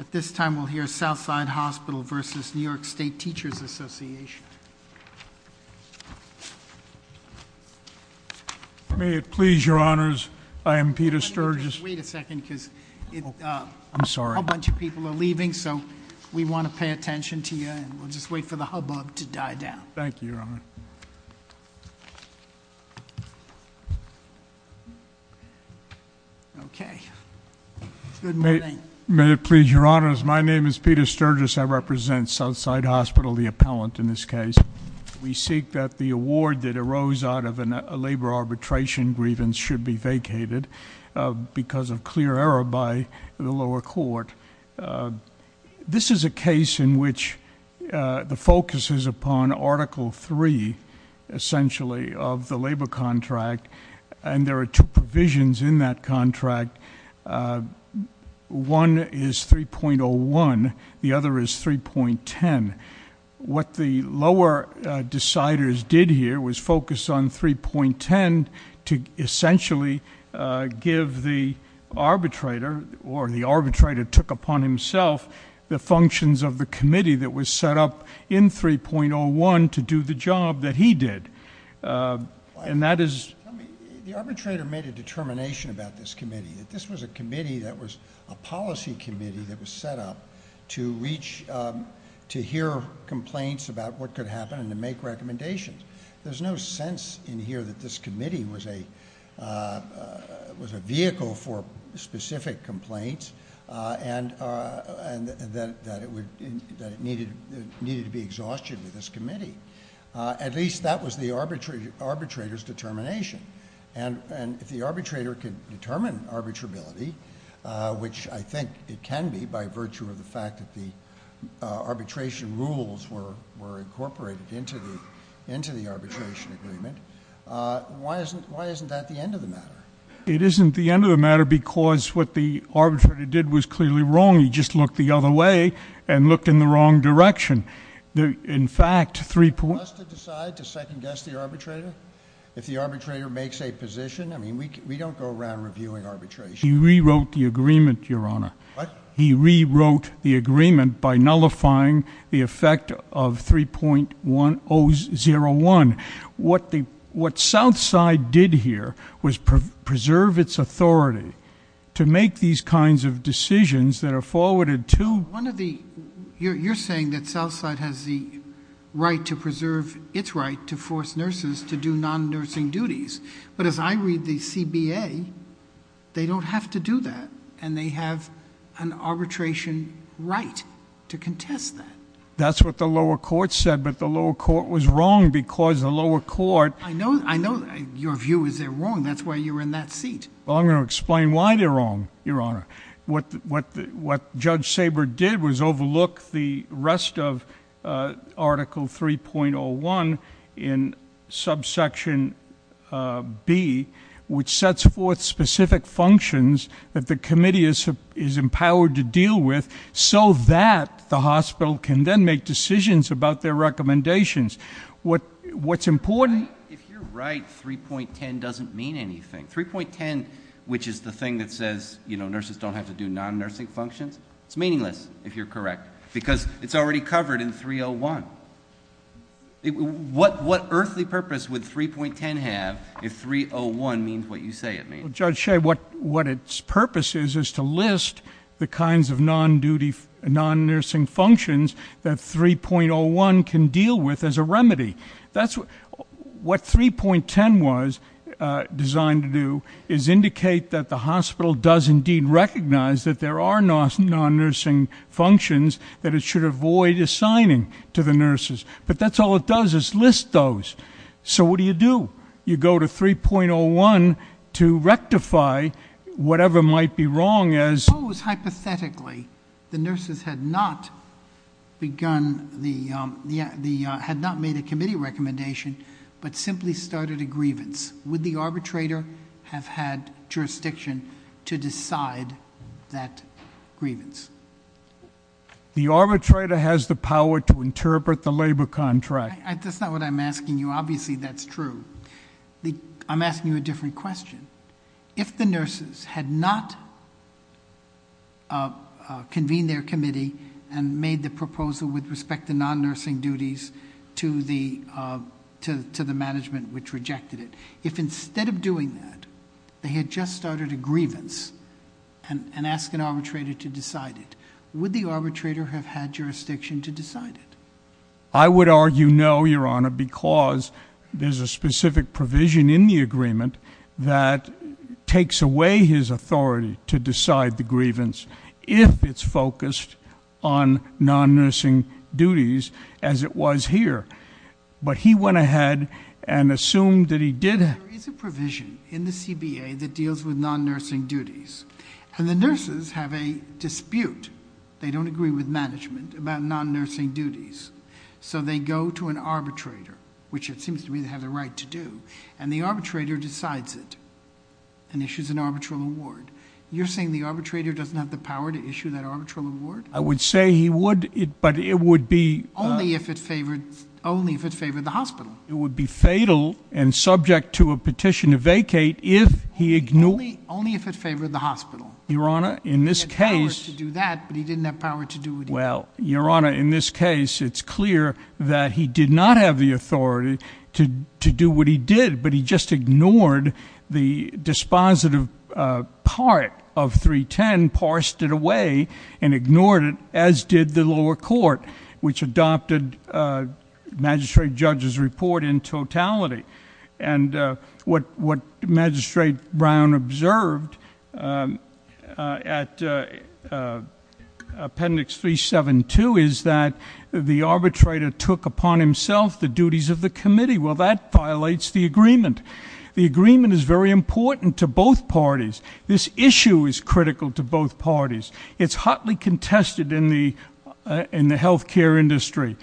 At this time, we'll hear Southside Hospital v. New York State Teachers Association. May it please your honors, I am Peter Sturgis. Wait a second because a bunch of people are leaving, so we want to pay attention to you and we'll just wait for the hubbub to die down. Thank you, your honor. Okay, good morning. May it please your honors, my name is Peter Sturgis, I represent Southside Hospital, the appellant in this case. We seek that the award that arose out of a labor arbitration grievance should be vacated because of clear error by the lower court. This is a case in which the focus is upon article three, essentially, of the labor contract, and there are two provisions in that contract. One is 3.01, the other is 3.10. What the lower deciders did here was focus on 3.10 to essentially give the arbitrator, or the arbitrator took upon himself, the functions of the committee that was set up in 3.01 to do the job that he did, and that is- The policy committee that was set up to reach, to hear complaints about what could happen and to make recommendations. There's no sense in here that this committee was a vehicle for specific complaints and that it needed to be exhausted with this committee. At least that was the arbitrator's determination. And if the arbitrator could determine arbitrability, which I think it can be by virtue of the fact that the arbitration rules were incorporated into the arbitration agreement, why isn't that the end of the matter? It isn't the end of the matter because what the arbitrator did was clearly wrong. He just looked the other way and looked in the wrong direction. In fact, 3- For us to decide to second guess the arbitrator? If the arbitrator makes a position? I mean, we don't go around reviewing arbitration. He rewrote the agreement, your honor. What? He rewrote the agreement by nullifying the effect of 3.101. What Southside did here was preserve its authority to make these kinds of decisions that are forwarded to- One of the- You're saying that Southside has the right to preserve its right to force nurses to do non-nursing duties. But as I read the CBA, they don't have to do that, and they have an arbitration right to contest that. That's what the lower court said, but the lower court was wrong because the lower court- I know your view is they're wrong. That's why you're in that seat. Well, I'm going to explain why they're wrong, your honor. What Judge Saber did was overlook the rest of Article 3.01 in subsection B, which sets forth specific functions that the committee is empowered to deal with, so that the hospital can then make decisions about their recommendations. What's important- If you're right, 3.10 doesn't mean anything. 3.10, which is the thing that says nurses don't have to do non-nursing functions, it's meaningless if you're correct, because it's already covered in 3.01. What earthly purpose would 3.10 have if 3.01 means what you say it means? Judge Shea, what its purpose is is to list the kinds of non-nursing functions that 3.01 can deal with as a remedy. That's what 3.10 was designed to do, is indicate that the hospital does indeed recognize that there are non-nursing functions that it should avoid assigning to the nurses, but that's all it does is list those. So what do you do? You go to 3.01 to rectify whatever might be wrong as- If, hypothetically, the nurses had not made a committee recommendation, but simply started a grievance, would the arbitrator have had jurisdiction to decide that grievance? The arbitrator has the power to interpret the labor contract. That's not what I'm asking you, obviously that's true. I'm asking you a different question. If the nurses had not convened their committee and made the proposal with respect to non-nursing duties to the management which rejected it. If instead of doing that, they had just started a grievance and ask an arbitrator to decide it. Would the arbitrator have had jurisdiction to decide it? I would argue no, your honor, because there's a specific provision in the agreement that takes away his authority to decide the grievance if it's focused on non-nursing duties as it was here. But he went ahead and assumed that he did have- There is a provision in the CBA that deals with non-nursing duties. And the nurses have a dispute. They don't agree with management about non-nursing duties. So they go to an arbitrator, which it seems to me they have the right to do, and the arbitrator decides it and issues an arbitral award. You're saying the arbitrator doesn't have the power to issue that arbitral award? I would say he would, but it would be- Only if it favored the hospital. It would be fatal and subject to a petition to vacate if he ignored- Only if it favored the hospital. Your honor, in this case- He had power to do that, but he didn't have power to do it either. Well, your honor, in this case, it's clear that he did not have the authority to do what he did, but he just ignored the dispositive part of 310, parsed it away, and ignored it, as did the lower court, which adopted Magistrate Judge's report in totality. And what Magistrate Brown observed at Appendix 372 is that the arbitrator took upon himself the duties of the committee. Well, that violates the agreement. The agreement is very important to both parties. This issue is critical to both parties. It's hotly contested in the healthcare industry.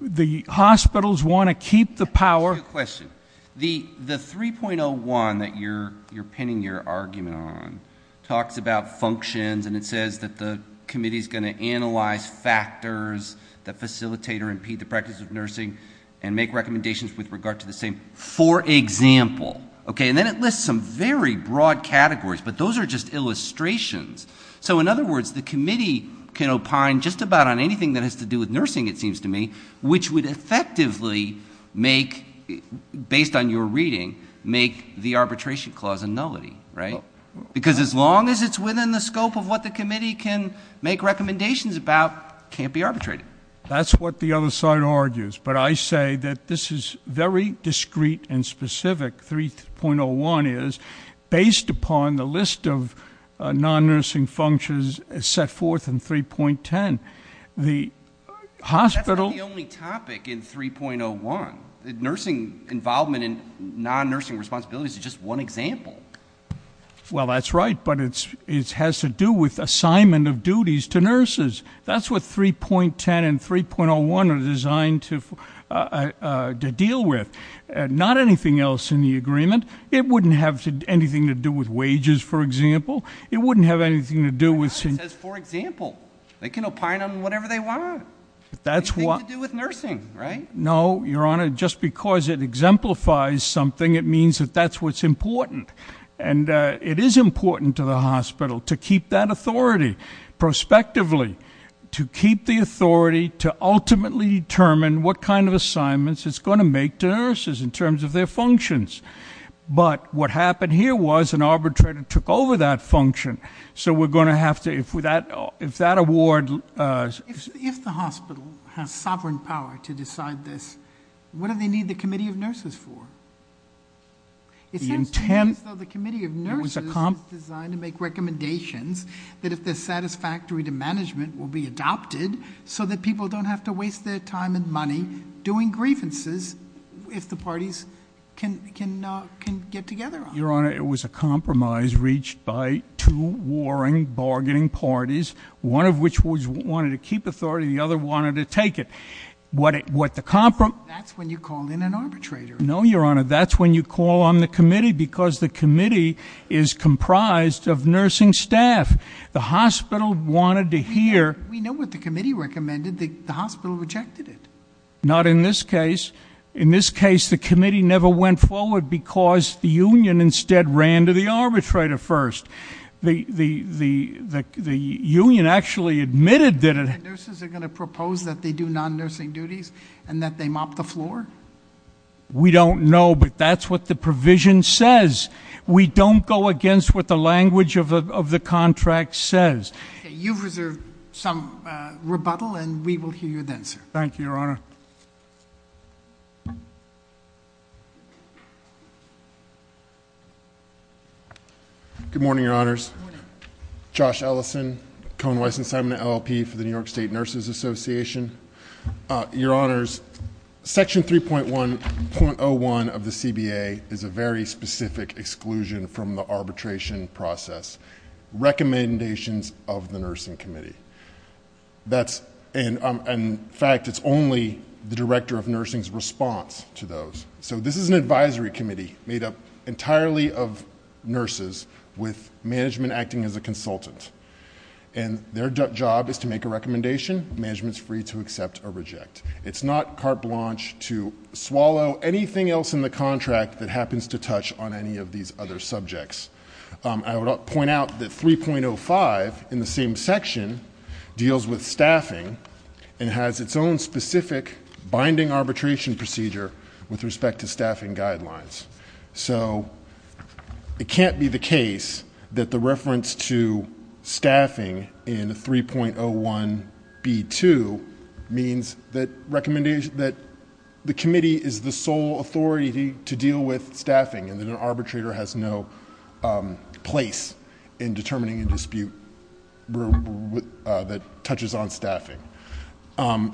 The hospitals want to keep the power- I have a question. The 3.01 that you're pinning your argument on talks about functions, and it says that the committee's going to analyze factors that facilitate or impede the practice of nursing, and make recommendations with regard to the same, for example. Okay, and then it lists some very broad categories, but those are just illustrations. So in other words, the committee can opine just about on anything that has to do with nursing, it seems to me, which would effectively make, based on your reading, make the arbitration clause a nullity, right? Because as long as it's within the scope of what the committee can make recommendations about, it can't be arbitrated. That's what the other side argues, but I say that this is very discreet and specific, 3.01 is, based upon the list of non-nursing functions set forth in 3.10. The hospital- That's not the only topic in 3.01. The nursing involvement and non-nursing responsibilities is just one example. Well, that's right, but it has to do with assignment of duties to nurses. That's what 3.10 and 3.01 are designed to deal with. Not anything else in the agreement. It wouldn't have anything to do with wages, for example. It wouldn't have anything to do with- It says, for example. They can opine on whatever they want. That's what- Anything to do with nursing, right? No, your honor, just because it exemplifies something, it means that that's what's important. And it is important to the hospital to keep that authority prospectively, to keep the authority to ultimately determine what kind of assignments it's going to make to nurses in terms of their functions. But what happened here was an arbitrator took over that function. So we're going to have to, if that award- If the hospital has sovereign power to decide this, what do they need the committee of nurses for? It sounds to me as though the committee of nurses is designed to make recommendations that if they're satisfactory to management will be adopted. So that people don't have to waste their time and money doing grievances if the parties can get together on it. Your honor, it was a compromise reached by two warring bargaining parties, one of which wanted to keep authority, the other wanted to take it. What the compro- That's when you call in an arbitrator. No, your honor, that's when you call on the committee because the committee is comprised of nursing staff. The hospital wanted to hear- We know what the committee recommended, the hospital rejected it. Not in this case. In this case, the committee never went forward because the union instead ran to the arbitrator first. The union actually admitted that it- Nurses are going to propose that they do non-nursing duties and that they mop the floor? We don't know, but that's what the provision says. We don't go against what the language of the contract says. You've reserved some rebuttal, and we will hear you then, sir. Thank you, your honor. Good morning, your honors. Good morning. Josh Ellison, Cohen, Weiss, and Simon, LLP for the New York State Nurses Association. Your honors, section 3.1.01 of the CBA is a very specific exclusion from the arbitration process. Recommendations of the nursing committee. In fact, it's only the director of nursing's response to those. So this is an advisory committee made up entirely of nurses with management acting as a consultant. And their job is to make a recommendation, management's free to accept or reject. It's not carte blanche to swallow anything else in the contract that happens to touch on any of these other subjects. I would point out that 3.05 in the same section deals with staffing and has its own specific binding arbitration procedure with respect to staffing guidelines. So it can't be the case that the reference to staffing in 3.01b2 means that the committee is the sole authority to deal with staffing. And that an arbitrator has no place in determining a dispute that touches on staffing.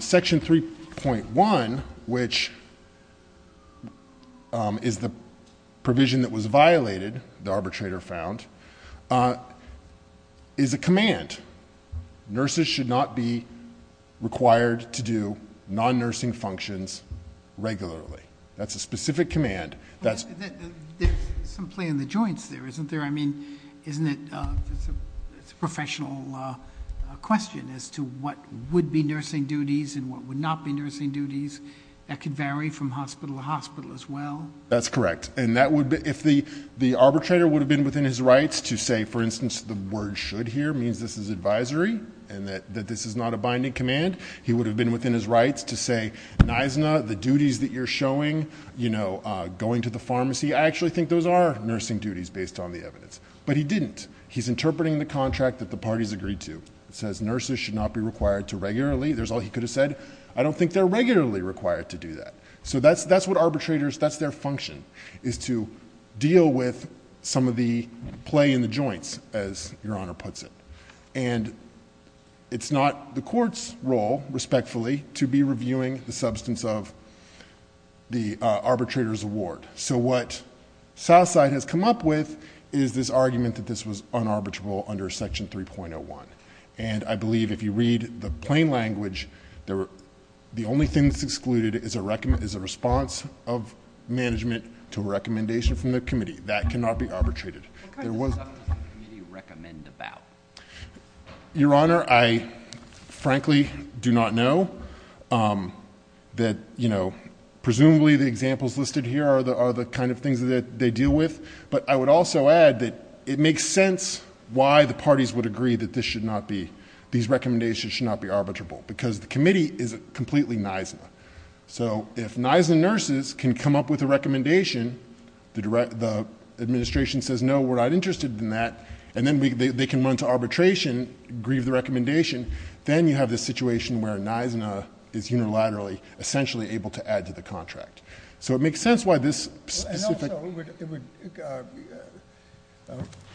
Section 3.1, which is the provision that was violated, the arbitrator found, is a command. Nurses should not be required to do non-nursing functions regularly. That's a specific command. That's- There's some play in the joints there, isn't there? I mean, isn't it, it's a professional question as to what would be nursing duties and what would not be nursing duties that could vary from hospital to hospital as well? That's correct. And that would, if the arbitrator would have been within his rights to say, for instance, the word should here means this is advisory and that this is not a binding command. He would have been within his rights to say, Nisna, the duties that you're showing, going to the pharmacy, I actually think those are nursing duties based on the evidence, but he didn't. He's interpreting the contract that the parties agreed to. It says nurses should not be required to regularly, there's all he could have said. I don't think they're regularly required to do that. So that's what arbitrators, that's their function, is to deal with some of the play in the joints, as your honor puts it. And it's not the court's role, respectfully, to be reviewing the substance of the arbitrator's award. So what Southside has come up with is this argument that this was unarbitrary under section 3.01. And I believe if you read the plain language, the only thing that's excluded is a response of management to a recommendation from the committee. That cannot be arbitrated. There was- What kind of stuff does the committee recommend about? Your honor, I frankly do not know. That presumably the examples listed here are the kind of things that they deal with. But I would also add that it makes sense why the parties would agree that this should not be, these recommendations should not be arbitrable, because the committee is completely Nisna. So if Nisna nurses can come up with a recommendation, the administration says no, we're not interested in that, and then they can run to arbitration, grieve the recommendation. Then you have this situation where Nisna is unilaterally essentially able to add to the contract. So it makes sense why this specific- And also it would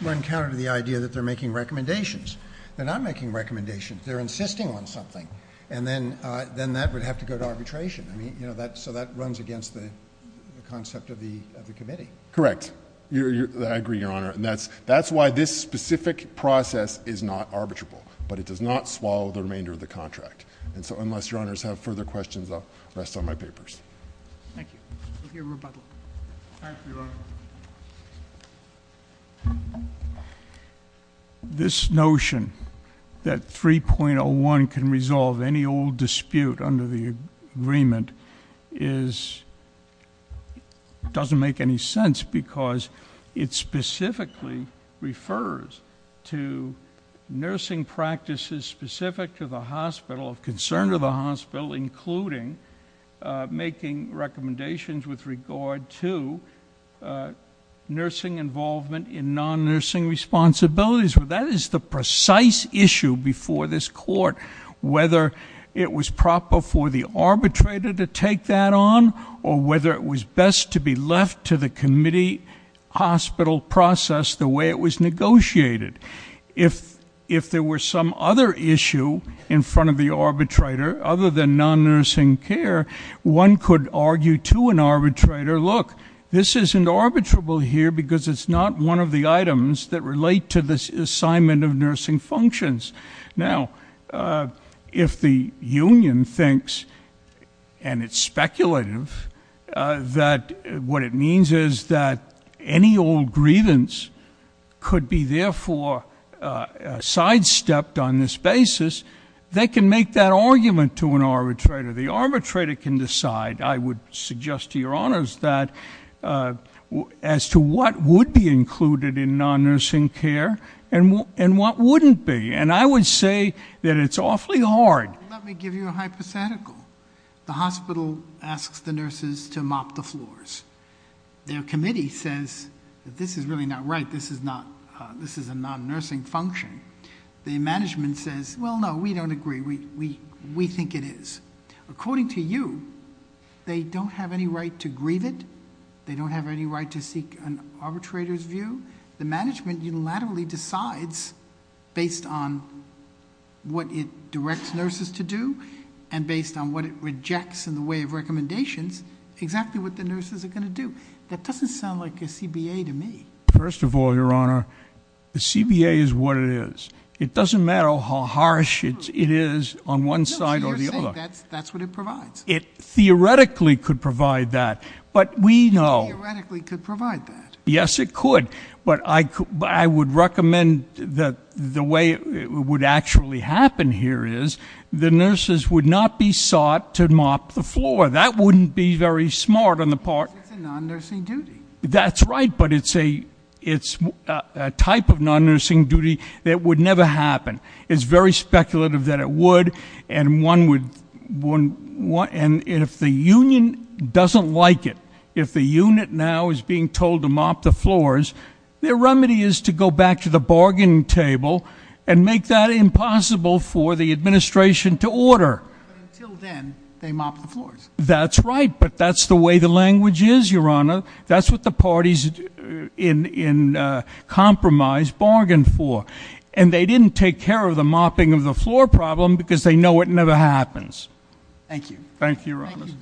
run counter to the idea that they're making recommendations. They're not making recommendations, they're insisting on something. And then that would have to go to arbitration. I mean, so that runs against the concept of the committee. Correct. I agree, your honor. And that's why this specific process is not arbitrable. But it does not swallow the remainder of the contract. And so unless your honors have further questions, I'll rest on my papers. We'll hear rebuttal. Thank you, your honor. This notion that 3.01 can resolve any old dispute under the agreement doesn't make any sense because it specifically refers to nursing practices specific to the hospital, of concern to the hospital, including making recommendations with regard to nursing involvement in non-nursing responsibilities, but that is the precise issue before this court. Whether it was proper for the arbitrator to take that on, or whether it was best to be left to the committee hospital process the way it was negotiated. If there were some other issue in front of the arbitrator, other than non-nursing care, one could argue to an arbitrator, look, this isn't arbitrable here because it's not one of the items that relate to this assignment of nursing functions. Now, if the union thinks, and it's speculative, that what it means is that any old law sidestepped on this basis, they can make that argument to an arbitrator. The arbitrator can decide, I would suggest to your honors that, as to what would be included in non-nursing care and what wouldn't be. And I would say that it's awfully hard. Let me give you a hypothetical. The hospital asks the nurses to mop the floors. Their committee says that this is really not right, this is a non-nursing function. The management says, well, no, we don't agree, we think it is. According to you, they don't have any right to grieve it, they don't have any right to seek an arbitrator's view. The management unilaterally decides, based on what it directs nurses to do, and based on what it rejects in the way of recommendations, exactly what the nurses are going to do. That doesn't sound like a CBA to me. First of all, your honor, the CBA is what it is. It doesn't matter how harsh it is on one side or the other. That's what it provides. It theoretically could provide that, but we know- Theoretically could provide that. Yes, it could, but I would recommend that the way it would actually happen here is, the nurses would not be sought to mop the floor, that wouldn't be very smart on the part- It's a non-nursing duty. That's right, but it's a type of non-nursing duty that would never happen. It's very speculative that it would, and if the union doesn't like it, if the unit now is being told to mop the floors, their remedy is to go back to the bargain table and make that impossible for the administration to order. Until then, they mop the floors. That's right, but that's the way the language is, your honor. That's what the parties in compromise bargained for. And they didn't take care of the mopping of the floor problem because they know it never happens. Thank you. Thank you, your honor. Thank you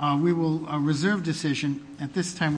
both. We will reserve decision at this time.